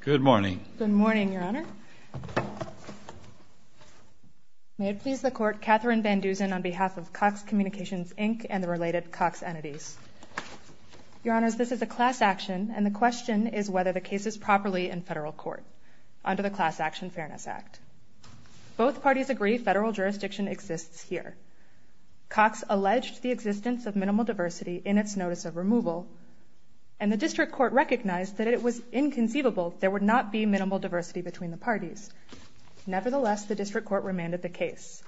Good morning. Good morning, Your Honor. May it please the Court, Katherine Van Dusen on behalf of Cox Communications, Inc. and the related Cox entities. Your Honors, this is a class action, and the question is whether the case is properly in federal court under the Class Action Fairness Act. Both parties agree federal jurisdiction exists here. Cox alleged the existence of minimal diversity in its notice of removal, and the district court recognized that it was inconceivable there would not be minimal diversity between the parties. Nevertheless, the district court remanded the case.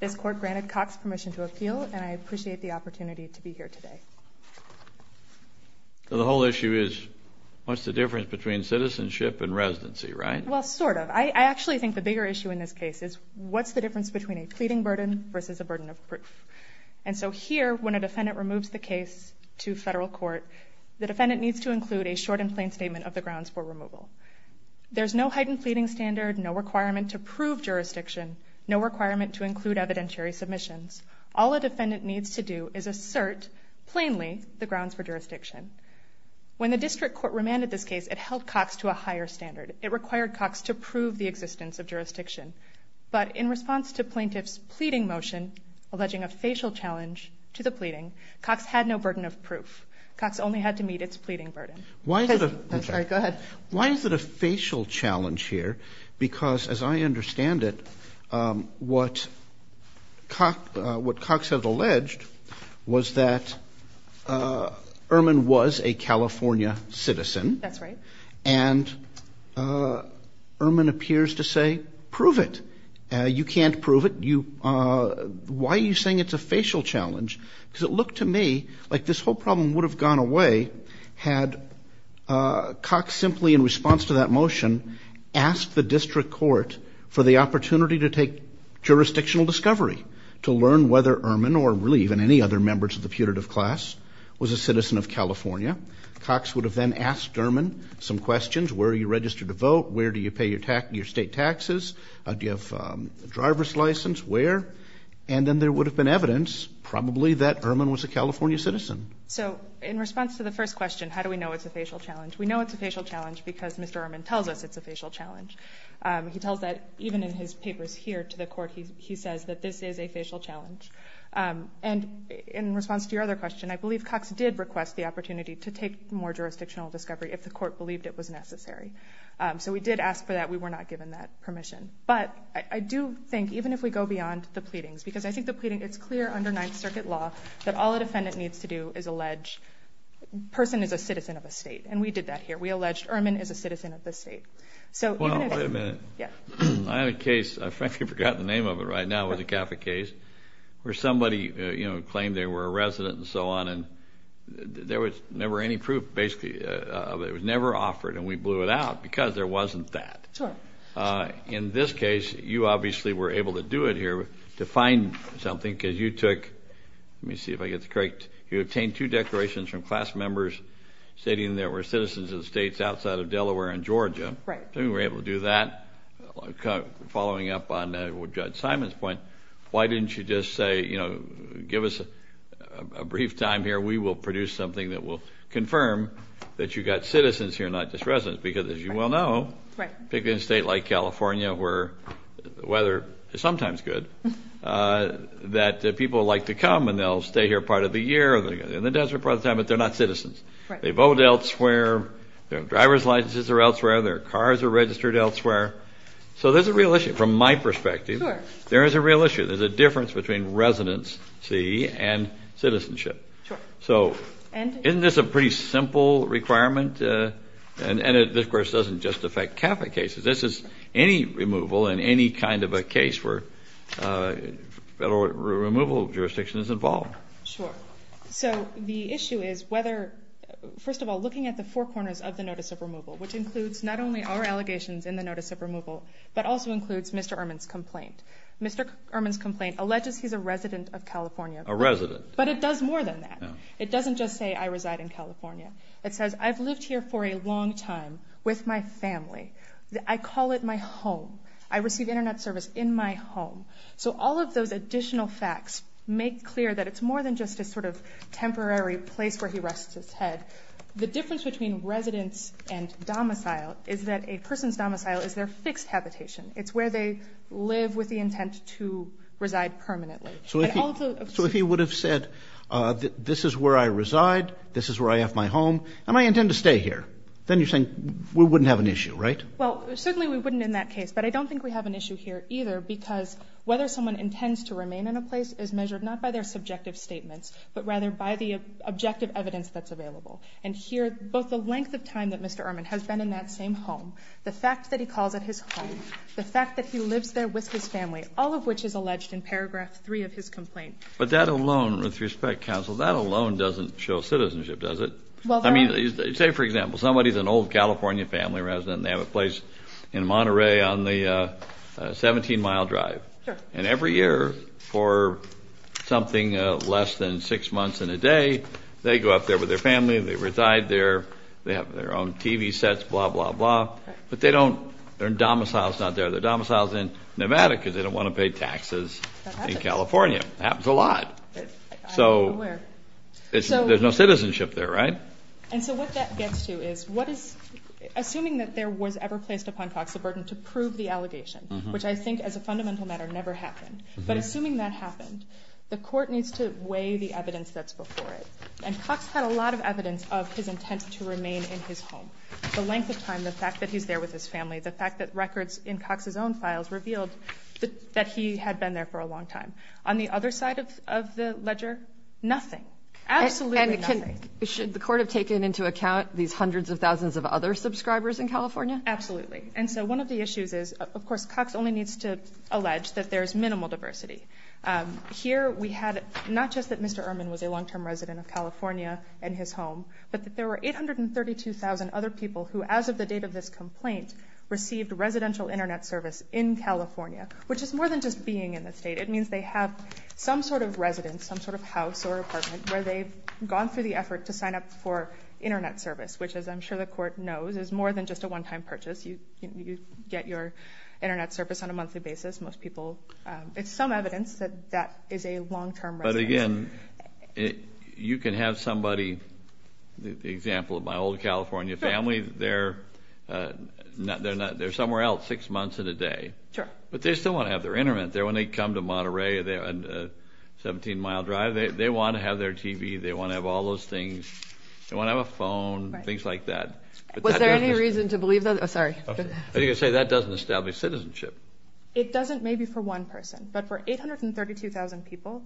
This court granted Cox permission to appeal, and I appreciate the opportunity to be here today. The whole issue is, what's the difference between citizenship and residency, right? Well, sort of. I actually think the bigger issue in this case is, what's the difference between a pleading burden versus a burden of proof? And so here, when a defendant removes the case to federal court, the defendant needs to include a short and plain statement of the grounds for removal. There's no heightened pleading standard, no requirement to prove jurisdiction, no requirement to include evidentiary submissions. All a defendant needs to do is assert, plainly, the grounds for jurisdiction. When the district court remanded this case, it held Cox to a higher standard. It required Cox to prove the existence of jurisdiction. But in response to plaintiff's pleading motion, alleging a facial challenge to the pleading, Cox had no burden of proof. Cox only had to meet its pleading burden. Why is it a facial challenge here? Because as I understand it, what Cox has alleged was that Ehrman was a California citizen. That's right. And Ehrman appears to say, prove it. You can't prove it. Why are you saying it's a facial challenge? Because it looked to me like this whole problem would have gone away had Cox simply, in response to that motion, asked the district court for the opportunity to take jurisdictional discovery to learn whether Ehrman, or really even any other members of the putative class, was a citizen of California. Cox would have then asked Ehrman some questions. Where are you registered to vote? Where do you pay your state taxes? Do you have a driver's license? Where? And then there would have been evidence, probably, that Ehrman was a California citizen. So in response to the first question, how do we know it's a facial challenge? We know it's a facial challenge because Mr. Ehrman tells us it's a facial challenge. He tells that even in his papers here to the court. He says that this is a facial challenge. And in response to your other question, I believe Cox did request the opportunity to take more jurisdictional discovery if the court believed it was necessary. So we did ask for that. We were not given that permission. But I do think, even if we go beyond the pleadings, because I think the pleading, it's clear under Ninth Circuit law that all a defendant needs to do is allege a person is a citizen of a state. And we did that here. We alleged Ehrman is a citizen of the state. So even if it's not a case, I frankly forgot the name of it right now. It was a Catholic case where somebody claimed they were a resident and so on. And there was never any proof, basically, of it. It was never offered. And we blew it out because there wasn't that. In this case, you obviously were able to do it here to find something because you took, let me see if I get this correct, you obtained two declarations from class members stating there were citizens of states outside of Delaware and Georgia. You were able to do that, following up on Judge Simon's point. Why didn't you just say, give us a brief time here. We will produce something that will confirm that you've got citizens here, not just residents. Because as you well know, particularly in a state like California, where the weather is sometimes good, that people like to come. And they'll stay here part of the year. They're in the desert part of the time. But they're not citizens. They vote elsewhere. Their driver's licenses are elsewhere. Their cars are registered elsewhere. So there's a real issue. From my perspective, there is a real issue. There's a difference between residency and citizenship. So isn't this a pretty simple requirement? And this, of course, doesn't just affect Catholic cases. This is any removal in any kind of a case where federal removal jurisdiction is involved. Sure. So the issue is whether, first of all, looking at the four corners of the notice of removal, which includes not only our allegations in the notice of removal, but also includes Mr. Ehrman's complaint. Mr. Ehrman's complaint alleges he's a resident of California. A resident. But it does more than that. It doesn't just say, I reside in California. It says, I've lived here for a long time with my family. I call it my home. I receive internet service in my home. So all of those additional facts make clear that it's more than just a sort of temporary place where he rests his head. The difference between residence and domicile is that a person's domicile is their fixed habitation. It's where they live with the intent to reside permanently. So if he would have said, this is where I reside, this is where I have my home, and I intend to stay here, then you're saying we wouldn't have an issue, right? Well, certainly we wouldn't in that case. But I don't think we have an issue here either, because whether someone intends to remain in a place is measured not by their subjective statements, but rather by the objective evidence that's available. And here, both the length of time that Mr. Ehrman has been in that same home, the fact that he calls it his home, the fact that he lives there with his family, all of which is alleged in paragraph three of his complaint. But that alone, with respect, counsel, that alone doesn't show citizenship, does it? I mean, say, for example, somebody is an old California family resident. They have a place in Monterey on the 17-mile drive. And every year, for something less than six months in a day, they go up there with their family. They reside there. They have their own TV sets, blah, blah, blah. But they don't, their domicile's not there. Their domicile's in Nevada, because they don't want to pay taxes in California. Happens a lot. So there's no citizenship there, right? And so what that gets to is, assuming that there was ever placed upon Cox a burden to prove the allegation, which I think, as a fundamental matter, never happened. But assuming that happened, the court needs to weigh the evidence that's before it. And Cox had a lot of evidence of his intent to remain in his home. The length of time, the fact that he's there with his family, the fact that records in Cox's own files revealed that he had been there for a long time. On the other side of the ledger, nothing. Absolutely nothing. Should the court have taken into account these hundreds of thousands of other subscribers in California? Absolutely. And so one of the issues is, of course, Cox only needs to allege that there is minimal diversity. Here, we had not just that Mr. Ehrman was a long-term resident of California and his home, but that there were 832,000 other people who, as of the date of this complaint, received residential internet service in California, which is more than just being in the state. It means they have some sort of residence, some sort of house or apartment, where they've gone through the effort to sign up for internet service, which, as I'm sure the court knows, is more than just a one-time purchase. You get your internet service on a monthly basis. Most people, it's some evidence that that is a long-term residence. But again, you can have somebody, the example of my old California family, they're somewhere else six months and a day. Sure. But they still want to have their internet there when they come to Monterey, a 17-mile drive. They want to have their TV. They want to have all those things. They want to have a phone, things like that. Was there any reason to believe that? Sorry. I was going to say, that doesn't establish citizenship. It doesn't, maybe, for one person. But for 832,000 people,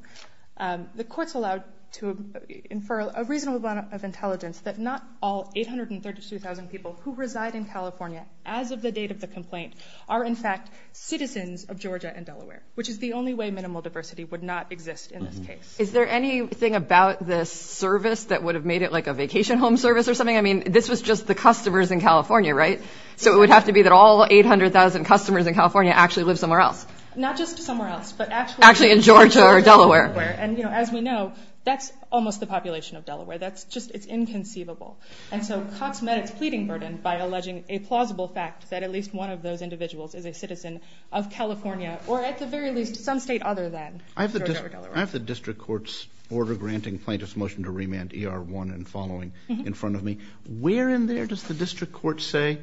the court's allowed to infer a reasonable amount of intelligence that not all 832,000 people who reside in California, as of the date of the complaint, are, in fact, citizens of Georgia and Delaware, which is the only way minimal diversity would not exist in this case. Is there anything about this service that would have made it like a vacation home service or something? I mean, this was just the customers in California, right? So it would have to be that all 800,000 customers in California actually live somewhere else. Not just somewhere else, but actually in Georgia or Delaware. And as we know, that's almost the population of Delaware. That's just, it's inconceivable. And so Cox met its pleading burden by alleging a plausible fact that at least one of those individuals is a citizen of California, or at the very least, some state other than Georgia or Delaware. I have the district court's order granting plaintiff's motion to remand ER1 and following in front of me. Where in there does the district court say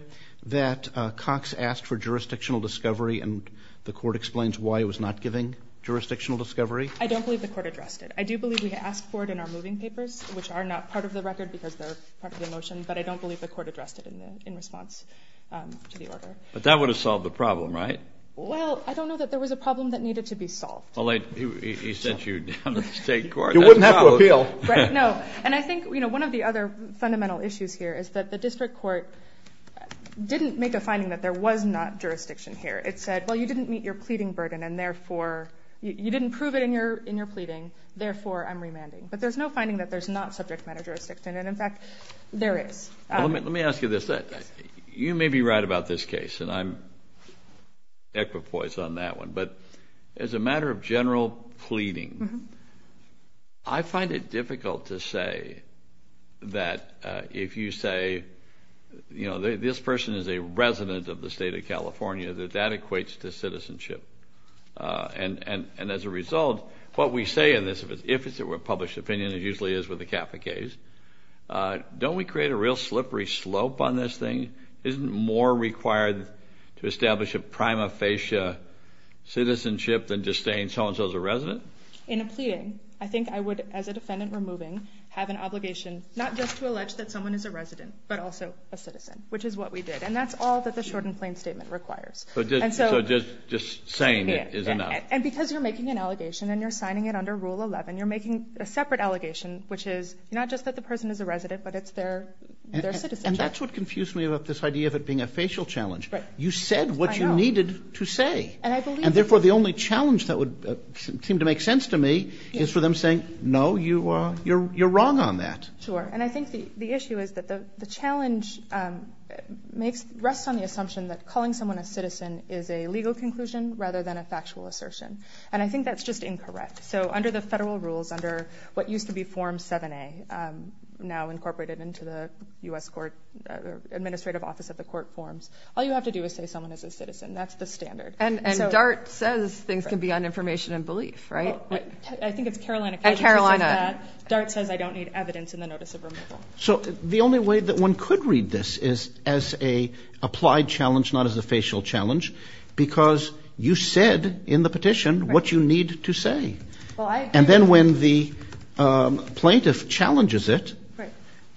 that Cox asked for jurisdictional discovery and the court explains why it was not giving jurisdictional discovery? I don't believe the court addressed it. I do believe we asked for it in our moving papers, which are not part of the record because they're part of the motion. But I don't believe the court addressed it in response to the order. But that would have solved the problem, right? Well, I don't know that there was a problem that needed to be solved. Well, he sent you down to the state court. You wouldn't have to appeal. No. And I think one of the other fundamental issues here is that the district court didn't make a finding that there was not jurisdiction here. It said, well, you didn't meet your pleading burden, and therefore, you didn't prove it in your pleading, therefore, I'm remanding. But there's no finding that there's not subject matter jurisdiction. And in fact, there is. Let me ask you this. You may be right about this case, and I'm equipoise on that one. But as a matter of general pleading, I find it difficult to say that if you say, you know, this person is a resident of the state of California, that that equates to citizenship. And as a result, what we say in this, if it's a published opinion, it usually is with a Kappa case. Don't we create a real slippery slope on this thing? Isn't more required to establish a prima facie citizenship than just saying so-and-so is a resident? In a pleading, I think I would, as a defendant removing, have an obligation not just to allege that someone is a resident, but also a citizen, which is what we did. And that's all that the short and plain statement requires. So just saying it is enough. And because you're making an allegation and you're signing it under Rule 11, you're making a separate allegation, which is not just that the person is a resident, but it's their citizenship. And that's what confused me about this idea of it being a facial challenge. You said what you needed to say. And therefore, the only challenge that would seem to make sense to me is for them saying, no, you're wrong on that. Sure. And I think the issue is that the challenge rests on the assumption that calling someone a citizen is a legal conclusion rather than a factual assertion. And I think that's just incorrect. So under the federal rules, under what is now incorporated into the US administrative office of the court forms, all you have to do is say someone is a citizen. That's the standard. And DART says things can be on information and belief, right? I think it's Carolina. Carolina. DART says I don't need evidence in the notice of removal. So the only way that one could read this is as a applied challenge, not as a facial challenge, because you said in the petition what you need to say. And then when the plaintiff challenges it,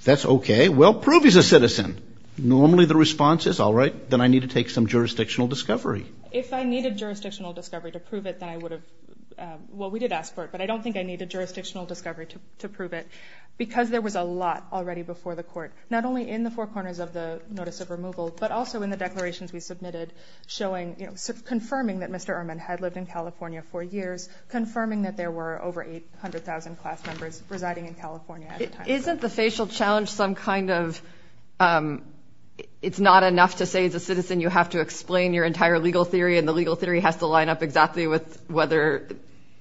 that's OK. Well, prove he's a citizen. Normally the response is, all right, then I need to take some jurisdictional discovery. If I needed jurisdictional discovery to prove it, then I would have, well, we did ask for it. But I don't think I needed jurisdictional discovery to prove it, because there was a lot already before the court, not only in the four corners of the notice of removal, but also in the declarations we submitted showing, confirming that Mr. Ehrman had lived in California for years, confirming that there were over 800,000 class members residing in California at the time. Isn't the facial challenge some kind of, it's not enough to say as a citizen you have to explain your entire legal theory, and the legal theory has to line up exactly with whether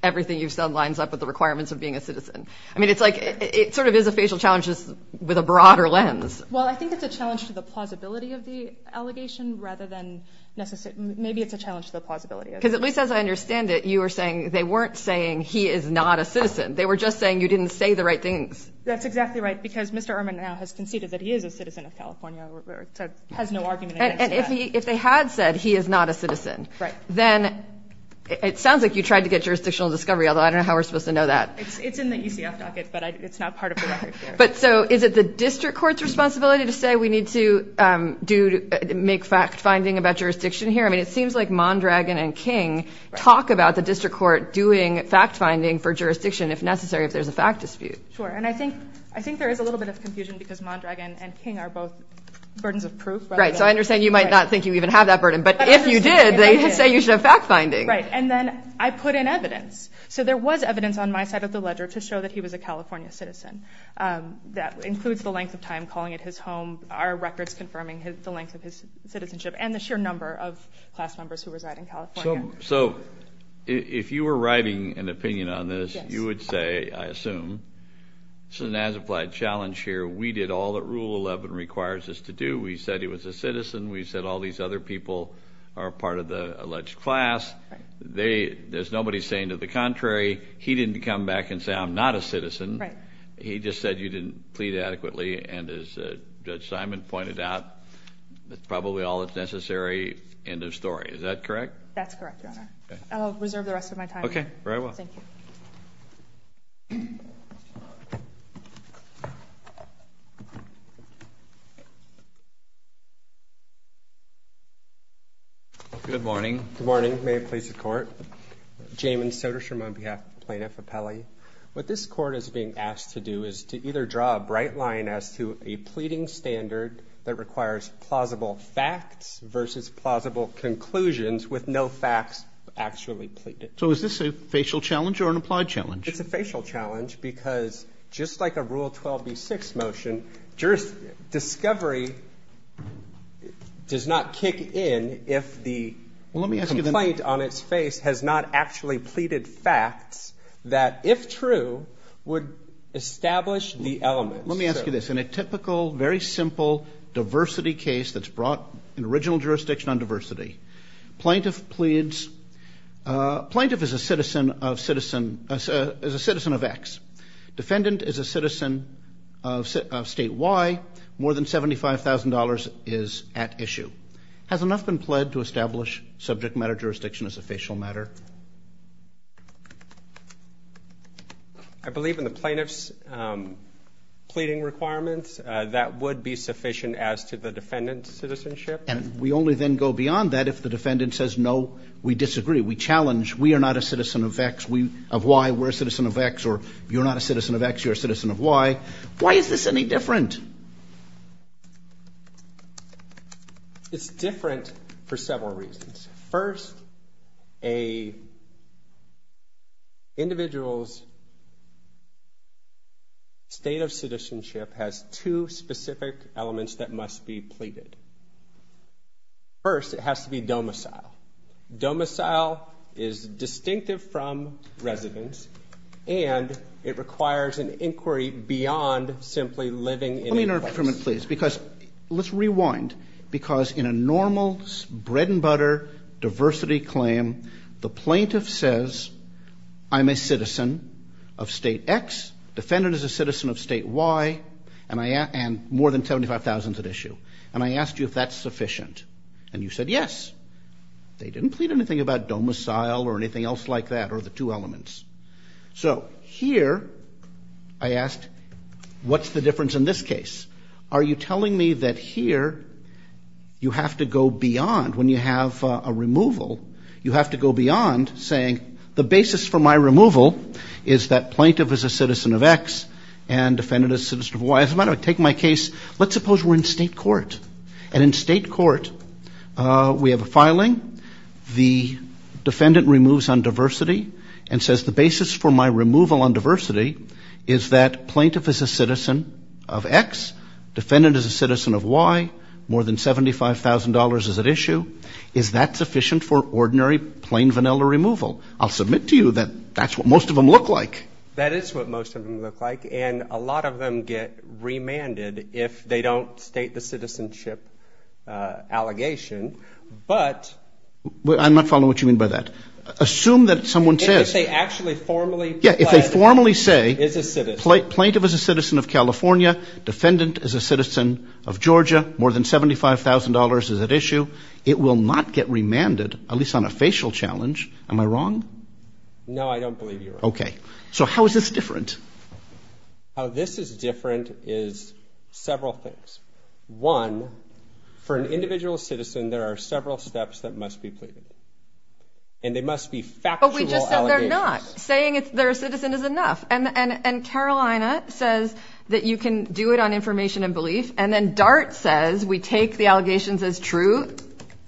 everything you've said lines up with the requirements of being a citizen. I mean, it's like, it sort of is a facial challenge just with a broader lens. Well, I think it's a challenge to the plausibility of the allegation rather than necessary. Maybe it's a challenge to the plausibility. Because at least as I understand it, you were saying they weren't saying he is not a citizen. They were just saying you didn't say the right things. That's exactly right, because Mr. Ehrman now has conceded that he is a citizen of California, has no argument against that. If they had said he is not a citizen, then it sounds like you tried to get jurisdictional discovery, although I don't know how we're supposed to know that. It's in the UCF docket, but it's not part of the record. But so is it the district court's responsibility to say we need to make fact-finding about jurisdiction here? I mean, it seems like Mondragon and King talk about the district court doing fact-finding for jurisdiction, if necessary, if there's a fact dispute. Sure, and I think there is a little bit of confusion because Mondragon and King are both burdens of proof. Right, so I understand you might not think you even have that burden, but if you did, they say you should have fact-finding. Right, and then I put in evidence. So there was evidence on my side of the ledger to show that he was a California citizen. That includes the length of time calling it his home, our records confirming the length of his citizenship, and the sheer number of class members who reside in California. So if you were writing an opinion on this, you would say, I assume, this is an as-applied challenge here. We did all that Rule 11 requires us to do. We said he was a citizen. We said all these other people are part of the alleged class. There's nobody saying to the contrary. He didn't come back and say, I'm not a citizen. He just said you didn't plead adequately. And as Judge Simon pointed out, that's a necessary end of story. Is that correct? That's correct, Your Honor. I'll reserve the rest of my time. OK, very well. Thank you. Good morning. Good morning. May it please the Court. Jamon Soderstrom on behalf of Plaintiff Apelli. What this court is being asked to do is to either draw a bright line as to a pleading standard that versus plausible conclusions with no facts actually pleaded. So is this a facial challenge or an applied challenge? It's a facial challenge, because just like a Rule 12b-6 motion, discovery does not kick in if the complaint on its face has not actually pleaded facts that, if true, would establish the element. Let me ask you this. In a typical, very simple diversity case that's brought in original jurisdiction on diversity, plaintiff pleads. Plaintiff is a citizen of x. Defendant is a citizen of state y. More than $75,000 is at issue. Has enough been pled to establish subject matter jurisdiction as a facial matter? I believe in the plaintiff's pleading requirements, that would be sufficient as to the defendant's citizenship. And we only then go beyond that if the defendant says, no, we disagree. We challenge. We are not a citizen of y. We're a citizen of x. Or you're not a citizen of x. You're a citizen of y. Why is this any different? It's different for several reasons. First, an individual's state of citizenship has two specific elements that must be pleaded. First, it has to be domicile. Domicile is distinctive from residence. And it requires an inquiry beyond simply living in a place. Let me interrupt for a minute, please. Because let's rewind. Because in a normal bread and butter diversity claim, the plaintiff says, I'm a citizen of state x. Defendant is a citizen of state y. And more than $75,000 is at issue. And I asked you if that's sufficient. And you said yes. They didn't plead anything about domicile or anything else like that, or the two elements. So here, I asked, what's the difference in this case? Are you telling me that here, you have to go beyond, when you have a removal, you have to go beyond saying, the basis for my removal is that plaintiff is a citizen of x and defendant is a citizen of y. As a matter of fact, take my case. Let's suppose we're in state court. And in state court, we have a filing. The defendant removes on diversity and says, the basis for my removal on diversity is that plaintiff is a citizen of x. Defendant is a citizen of y. More than $75,000 is at issue. Is that sufficient for ordinary, plain vanilla removal? I'll submit to you that that's what most of them look like. That is what most of them look like. And a lot of them get remanded if they don't state the citizenship allegation. But I'm not following what you mean by that. Assume that someone says. If they actually formally pled is a citizen. Plaintiff is a citizen of California. Defendant is a citizen of Georgia. More than $75,000 is at issue. It will not get remanded, at least on a facial challenge. Am I wrong? No, I don't believe you're wrong. So how is this different? How this is different is several things. One, for an individual citizen, there are several steps that must be pleaded. And they must be factual allegations. But we just said they're not. Saying they're a citizen is enough. And Carolina says that you can do it on information and belief. And then Dart says we take the allegations as true,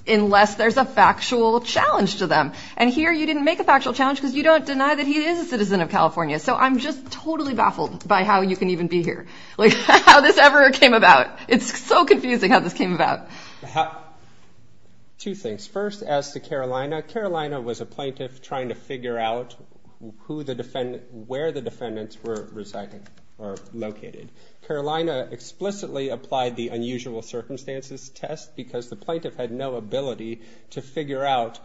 unless there's a factual challenge to them. And here, you didn't make a factual challenge because you don't deny that he is a citizen of California. So I'm just totally baffled by how you can even be here, like how this ever came about. It's so confusing how this came about. Two things. First, as to Carolina, Carolina was a plaintiff trying to figure out where the defendants were located. Carolina explicitly applied the unusual circumstances test because the plaintiff had no ability to figure out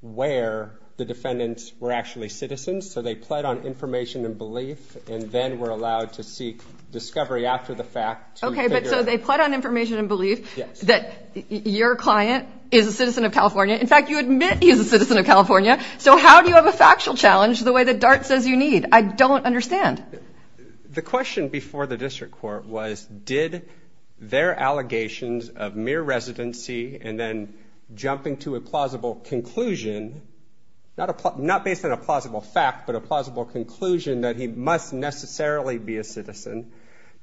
where the defendants were actually citizens. So they pled on information and belief. And then were allowed to seek discovery after the fact. OK, but so they pled on information and belief that your client is a citizen of California. In fact, you admit he's a citizen of California. So how do you have a factual challenge the way that Dart says you need? I don't understand. The question before the district court was did their allegations of mere residency and then jumping to a plausible conclusion, not based on a plausible fact, but a plausible conclusion that he must necessarily be a citizen,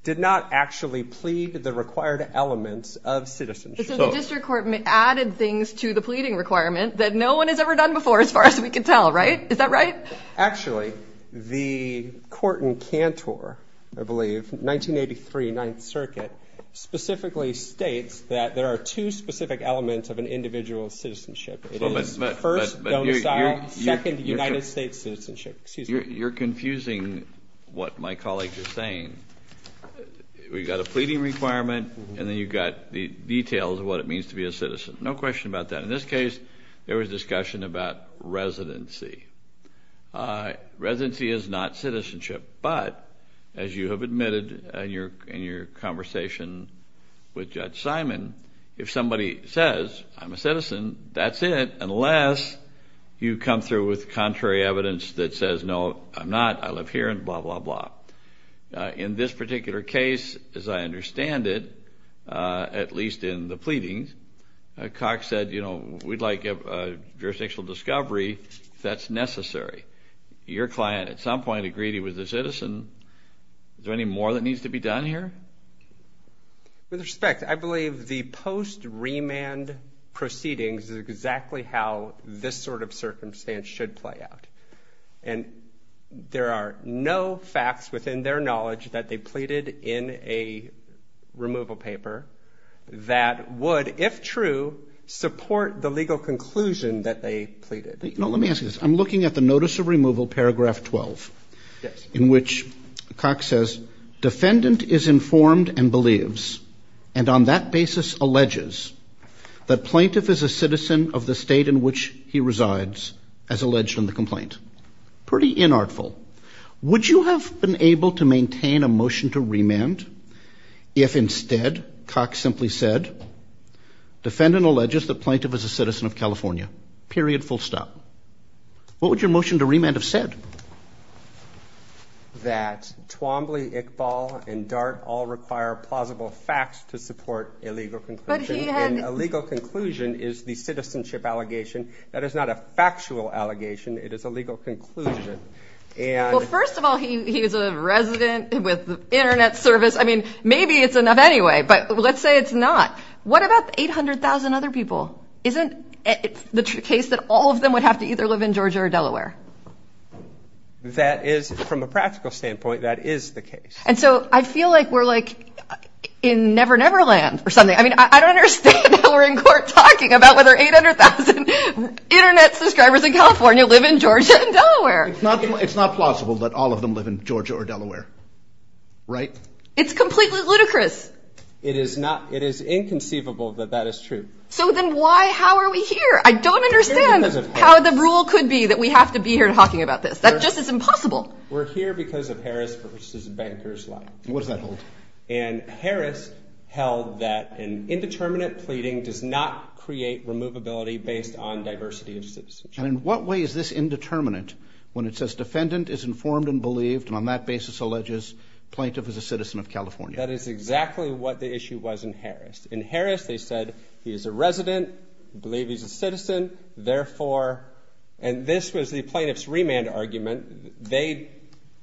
did not actually plead the required elements of citizenship. So the district court added things to the pleading requirement that no one has ever done before as far as we can tell, right? Is that right? Actually, the court in Cantor, I believe, 1983, Ninth Circuit, specifically states that there are two specific elements of an individual's citizenship. It is first, domicile, second, United States citizenship. Excuse me. You're confusing what my colleagues are saying. We've got a pleading requirement, and then you've got the details of what it means to be a citizen. No question about that. In this case, there was discussion about residency. Residency is not citizenship. But as you have admitted in your conversation with Judge Simon, if somebody says, I'm a citizen, that's it, unless you come through with contrary evidence that says, no, I'm not, I live here, and blah, blah, blah. In this particular case, as I understand it, at least in the pleadings, Cox said, we'd like a jurisdictional discovery if that's necessary. Your client, at some point, agreed he was a citizen. Is there any more that needs to be done here? With respect, I believe the post-remand proceedings is exactly how this sort of circumstance should play out. And there are no facts within their knowledge that they pleaded in a removal paper that would, if true, support the legal conclusion that they pleaded. No, let me ask you this. I'm looking at the notice of removal, paragraph 12, in which Cox says, defendant is informed and believes, and on that basis alleges, that plaintiff is a citizen of the state in which he resides, as alleged in the complaint. Pretty inartful. Would you have been able to maintain a motion to remand if instead, Cox simply said, defendant alleges that plaintiff is a citizen of California? Period, full stop. What would your motion to remand have said? That Twombly, Iqbal, and Dart all require plausible facts to support a legal conclusion. But he had a legal conclusion is the citizenship allegation. That is not a factual allegation. It is a legal conclusion. Well, first of all, he is a resident with the internet service. I mean, maybe it's enough anyway. But let's say it's not. What about 800,000 other people? It's the true case that all of them would have to either live in Georgia or Delaware. That is, from a practical standpoint, that is the case. And so I feel like we're in Never Never Land or something. I mean, I don't understand how we're in court talking about whether 800,000 internet subscribers in California live in Georgia or Delaware. It's not plausible that all of them live in Georgia or Delaware, right? It's completely ludicrous. It is inconceivable that that is true. So then why, how are we here? I don't understand how the rule could be that we have to be here talking about this. That just is impossible. We're here because of Harris versus Banker's Law. What does that hold? And Harris held that an indeterminate pleading does not create removability based on diversity of citizenship. And in what way is this indeterminate when it says defendant is informed and believed is a citizen of California? That is exactly what the issue was in Harris. In Harris, they said he is a resident, believe he's a citizen, therefore, and this was the plaintiff's remand argument. They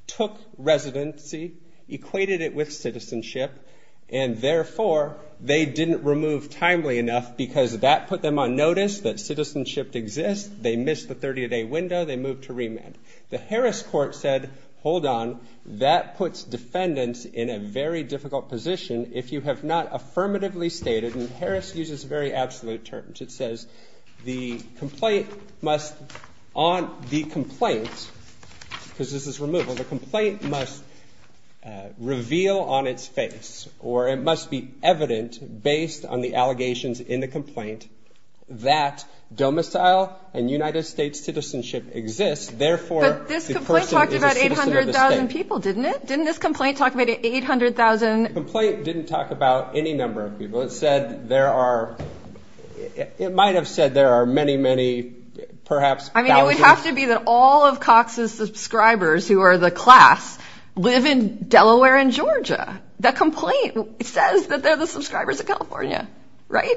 took residency, equated it with citizenship, and therefore, they didn't remove timely enough because that put them on notice that citizenship exists. They missed the 30-day window. They moved to remand. The Harris court said, hold on. That puts defendants in a very difficult position if you have not affirmatively stated, and Harris uses very absolute terms. It says the complaint must, on the complaint, because this is removal, the complaint must reveal on its face, or it must be evident based on the allegations in the complaint that domicile and United States citizenship exists. Therefore, the person is a citizen of the state. But this complaint talked about 800,000 people, didn't it? Didn't this complaint talk about 800,000? The complaint didn't talk about any number of people. It might have said there are many, many, perhaps thousands. I mean, it would have to be that all of Cox's subscribers, who are the class, live in Delaware and Georgia. That complaint says that they're the subscribers of California, right?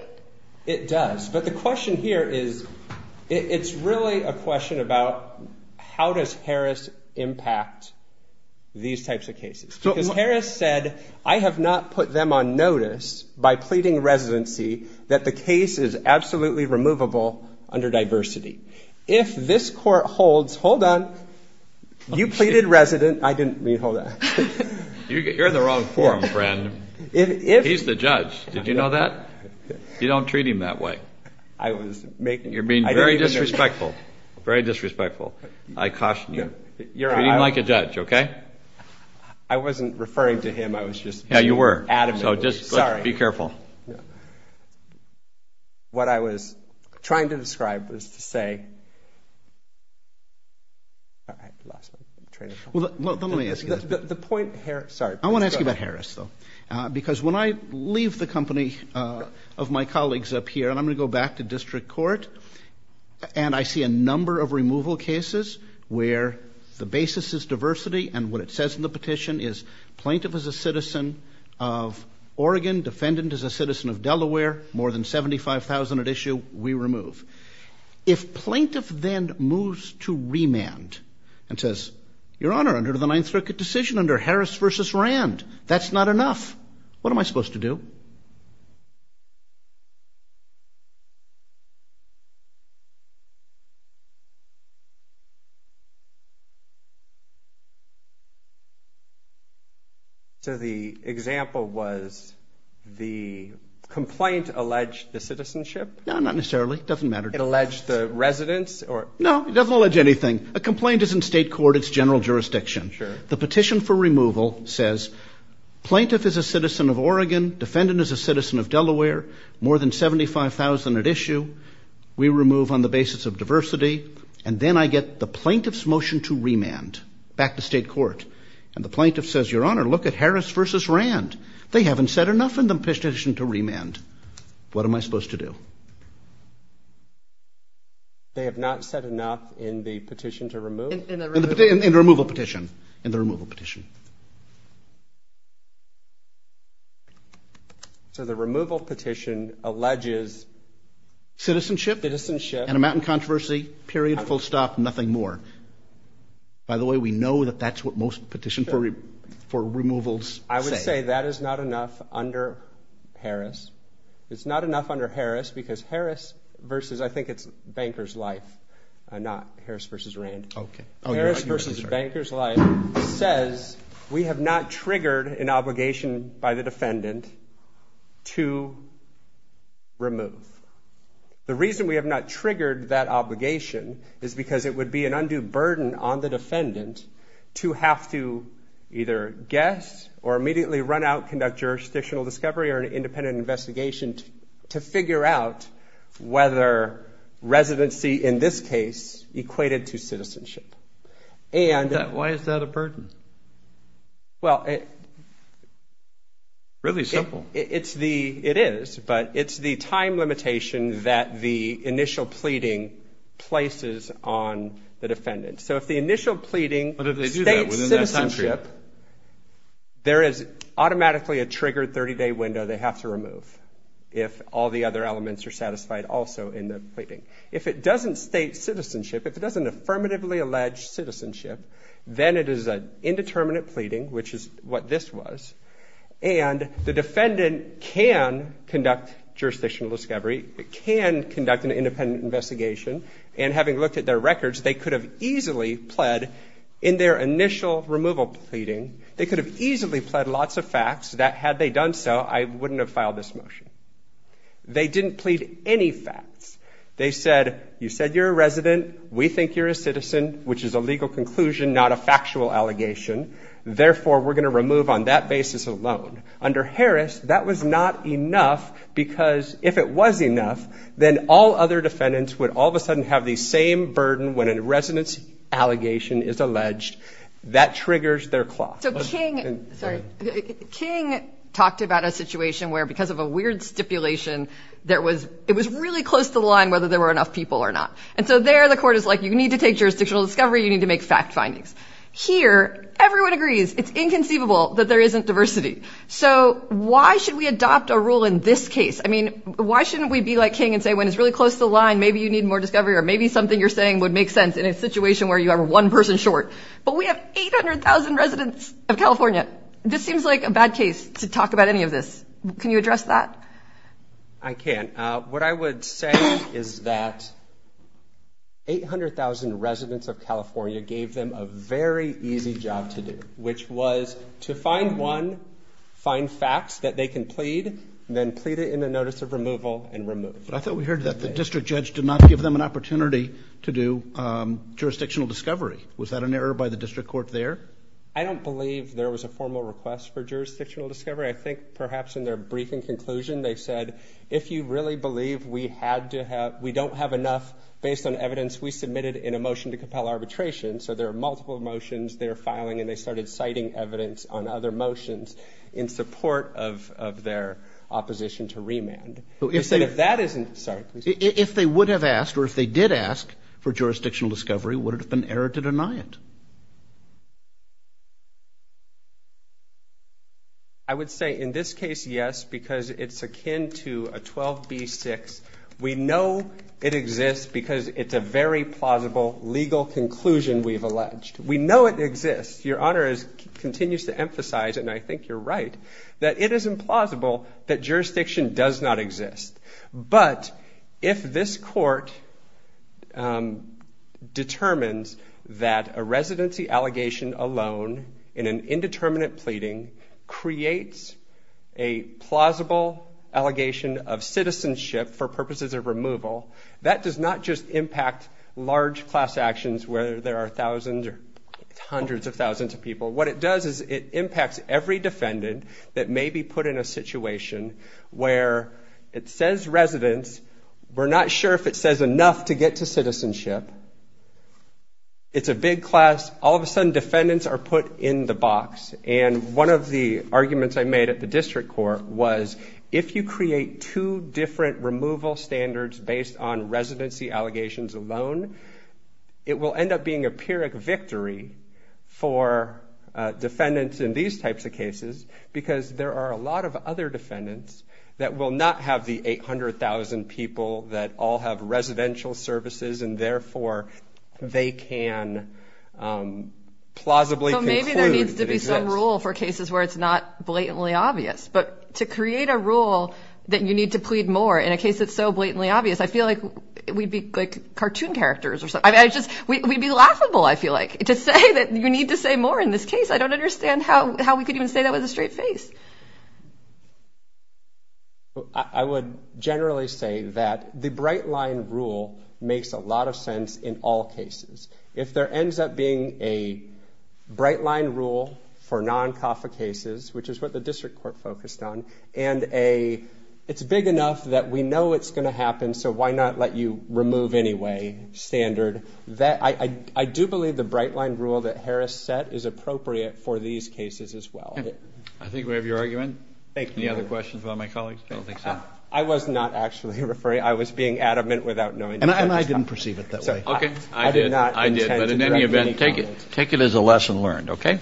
It does. But the question here is, it's really a question about how does Harris impact these types of cases? Harris said, I have not put them on notice by pleading residency that the case is absolutely removable under diversity. If this court holds, hold on, you pleaded resident. I didn't mean hold on. You're in the wrong forum, friend. He's the judge. Did you know that? You don't treat him that way. You're being very disrespectful, very disrespectful. I caution you. Treat him like a judge, OK? I wasn't referring to him. I was just being adamant. Yeah, you were. So just be careful. What I was trying to describe was to say, all right, lost my train of thought. Well, let me ask you this. The point, Harris, sorry. I want to ask you about Harris, though. Because when I leave the company of my colleagues up here, and I'm going to go back to district court, and I see a number of removal cases where the basis is diversity, and what it says in the petition is plaintiff is a citizen of Oregon, defendant is a citizen of Delaware, more than 75,000 at issue, we remove. If plaintiff then moves to remand and says, your honor, under the Ninth Circuit decision, under Harris versus Rand, that's not enough. What am I supposed to do? So the example was the complaint alleged the citizenship? No, not necessarily. It doesn't matter. It alleged the residence? No, it doesn't allege anything. A complaint is in state court. It's general jurisdiction. Sure. The petition for removal says, plaintiff is a citizen of Oregon, defendant is a citizen of Delaware, more than 75,000 at issue, And then I get the plaintiff's complaint that says plaintiff is a citizen of Oregon, plaintiff's motion to remand, back to state court. And the plaintiff says, your honor, look at Harris versus Rand. They haven't said enough in the petition to remand. What am I supposed to do? They have not said enough in the petition to remove? In the removal petition. In the removal petition. So the removal petition alleges? Citizenship. Citizenship. And a mountain controversy, period, full stop, nothing more. By the way, we know that that's what most petition for removals say. I would say that is not enough under Harris. It's not enough under Harris, because Harris versus, I think it's Banker's Life, not Harris versus Rand. OK. Harris versus Banker's Life says, we have not triggered an obligation by the defendant to remove. The reason we have not triggered that obligation is because it would be an undue burden on the defendant to have to either guess or immediately run out, conduct jurisdictional discovery or an independent investigation to figure out whether residency, in this case, equated to citizenship. Why is that a burden? Well, it's the time limitation that the initial pleading places on the defendant. So if the initial pleading states citizenship, there is automatically a triggered 30-day window they have to remove if all the other elements are satisfied also in the pleading. If it doesn't state citizenship, if it doesn't affirmatively allege citizenship, then it is an indeterminate pleading, which is what this was. And the defendant can conduct jurisdictional discovery. It can conduct an independent investigation. And having looked at their records, they could have easily pled in their initial removal pleading. They could have easily pled lots of facts that, had they done so, I wouldn't have filed this motion. They didn't plead any facts. They said, you said you're a resident. We think you're a citizen, which is a legal conclusion, not a factual allegation. Therefore, we're going to remove on that basis alone. Under Harris, that was not enough because, if it was enough, then all other defendants would all of a sudden have the same burden when a resident's allegation is alleged. That triggers their clock. So King talked about a situation where, because of a weird stipulation, it was really close to the line whether there were enough people or not. And so there, the court is like, you need to take jurisdictional discovery. You need to make fact findings. Here, everyone agrees it's inconceivable that there isn't diversity. So why should we adopt a rule in this case? I mean, why shouldn't we be like King and say, when it's really close to the line, maybe you need more discovery, or maybe something you're saying would make sense in a situation where you have one person short? But we have 800,000 residents of California. This seems like a bad case to talk about any of this. Can you address that? I can. What I would say is that 800,000 residents of California gave them a very easy job to do, which was to find one, find facts that they can plead, then plead it in a notice of removal, and remove. But I thought we heard that the district judge did not give them an opportunity to do jurisdictional discovery. Was that an error by the district court there? I don't believe there was a formal request for jurisdictional discovery. I think, perhaps, in their briefing conclusion, they said, if you really believe we don't have enough, based on evidence we submitted in a motion to compel arbitration. So there are multiple motions they're filing, and they started citing evidence on other motions in support of their opposition to remand. If that isn't, sorry, please. If they would have asked, or if they did ask for jurisdictional discovery, would it have been error to deny it? I would say, in this case, yes, because it's akin to a 12b-6. We know it exists because it's a very plausible legal conclusion we've alleged. We know it exists. Continues to emphasize, and I think you're right, that it is implausible that jurisdiction does not exist. But if this court determines that a residency allegation alone, in an indeterminate pleading, creates a plausible allegation of citizenship for purposes of removal, that does not just impact large class actions, whether there are thousands or hundreds of thousands of people. What it does is it impacts every defendant that may be put in a situation where it says residence. We're not sure if it says enough to get to citizenship. It's a big class. All of a sudden, defendants are put in the box. And one of the arguments I made at the district court was, if you create two different removal standards based on residency allegations alone, it will end up being a pyrrhic victory for defendants in these types of cases. Because there are a lot of other defendants that will not have the 800,000 people that all have residential services. And therefore, they can plausibly conclude it exists. So maybe there needs to be some rule for cases where it's not blatantly obvious. But to create a rule that you need to plead more in a case that's so blatantly obvious, I feel like we'd be like cartoon characters or something. We'd be laughable, I feel like, to say that you need to say more in this case. I don't understand how we could even say that with a straight face. I would generally say that the bright line rule makes a lot of sense in all cases. If there ends up being a bright line rule for non-CAFA cases, which is what the district court focused on, and it's big enough that we know it's going to happen, so why not let you remove, anyway, standard? I do believe the bright line rule that Harris set is appropriate for these cases as well. I think we have your argument. Thank you. Any other questions about my colleagues? I don't think so. I was not actually referring. I was being adamant without knowing. And I didn't perceive it that way. OK. I did. I did. But in any event, take it as a lesson learned, OK?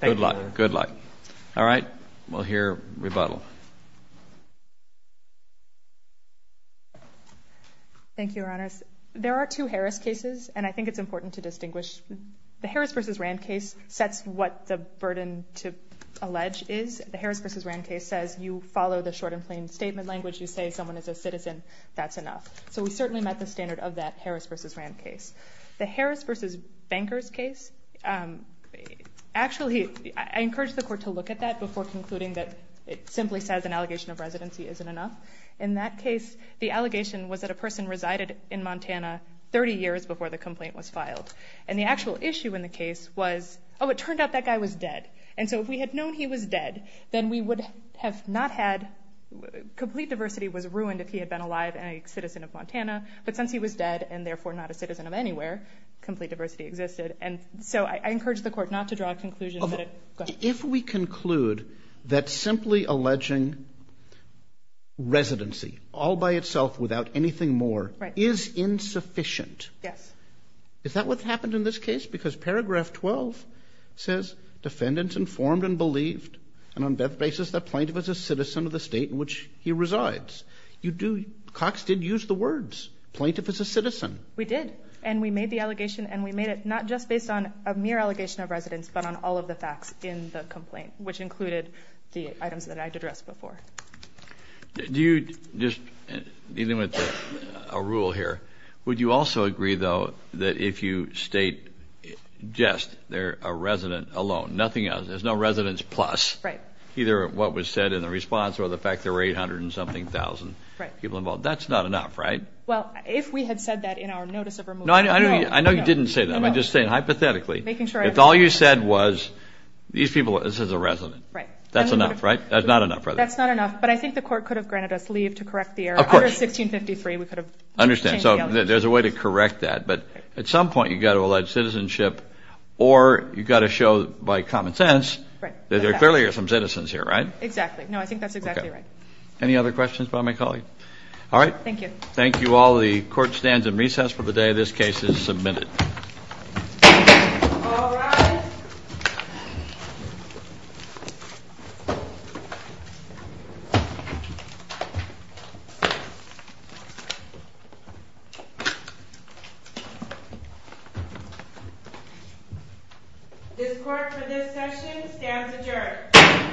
Good luck. Good luck. All right. We'll hear rebuttal. Thank you, Your Honors. There are two Harris cases. And I think it's important to distinguish. The Harris versus Rand case sets what the burden to allege is. The Harris versus Rand case says you follow the short and plain statement language. You say someone is a citizen. That's enough. So we certainly met the standard of that Harris versus Rand case. The Harris versus Bankers case, actually, I encourage the court to look at that before concluding that it simply says an allegation of residency isn't enough. In that case, the allegation was that a person resided in Montana 30 years before the complaint was filed. And the actual issue in the case was, oh, it turned out that guy was dead. And so if we had known he was dead, then we would have not had complete diversity was ruined if he had been alive and a citizen of Montana. But since he was dead and therefore not a citizen of anywhere, complete diversity existed. And so I encourage the court not to draw a conclusion that it goes. If we conclude that simply alleging residency all by itself without anything more is insufficient, is that what's happened in this case? Because paragraph 12 says, defendants informed and believed, and on that basis, the plaintiff is a citizen of the state in which he resides. Cox did use the words, plaintiff is a citizen. We did. And we made the allegation. And we made it not just based on a mere allegation of residence, but on all of the facts in the complaint, which included the items that I addressed before. Do you just, even with a rule here, would you also agree, though, that if you state just they're a resident alone, nothing else, there's no residence plus either what was said in the response or the fact there were 800 and something thousand people involved, that's not enough, right? Well, if we had said that in our notice of removal, no. I know you didn't say that. I'm just saying, hypothetically, if all you said was, these people, this is a resident. That's enough, right? That's not enough, right? That's not enough. But I think the court could have granted us leave to correct the error. Under 1653, we could have changed the allegation. I understand. So there's a way to correct that. But at some point, you've got to allege citizenship, or you've got to show, by common sense, that there clearly are some citizens here, right? Exactly. No, I think that's exactly right. Any other questions by my colleague? All right. Thank you. Thank you all. The court stands in recess for the day this case is submitted. All rise. This court, for this session, stands adjourned.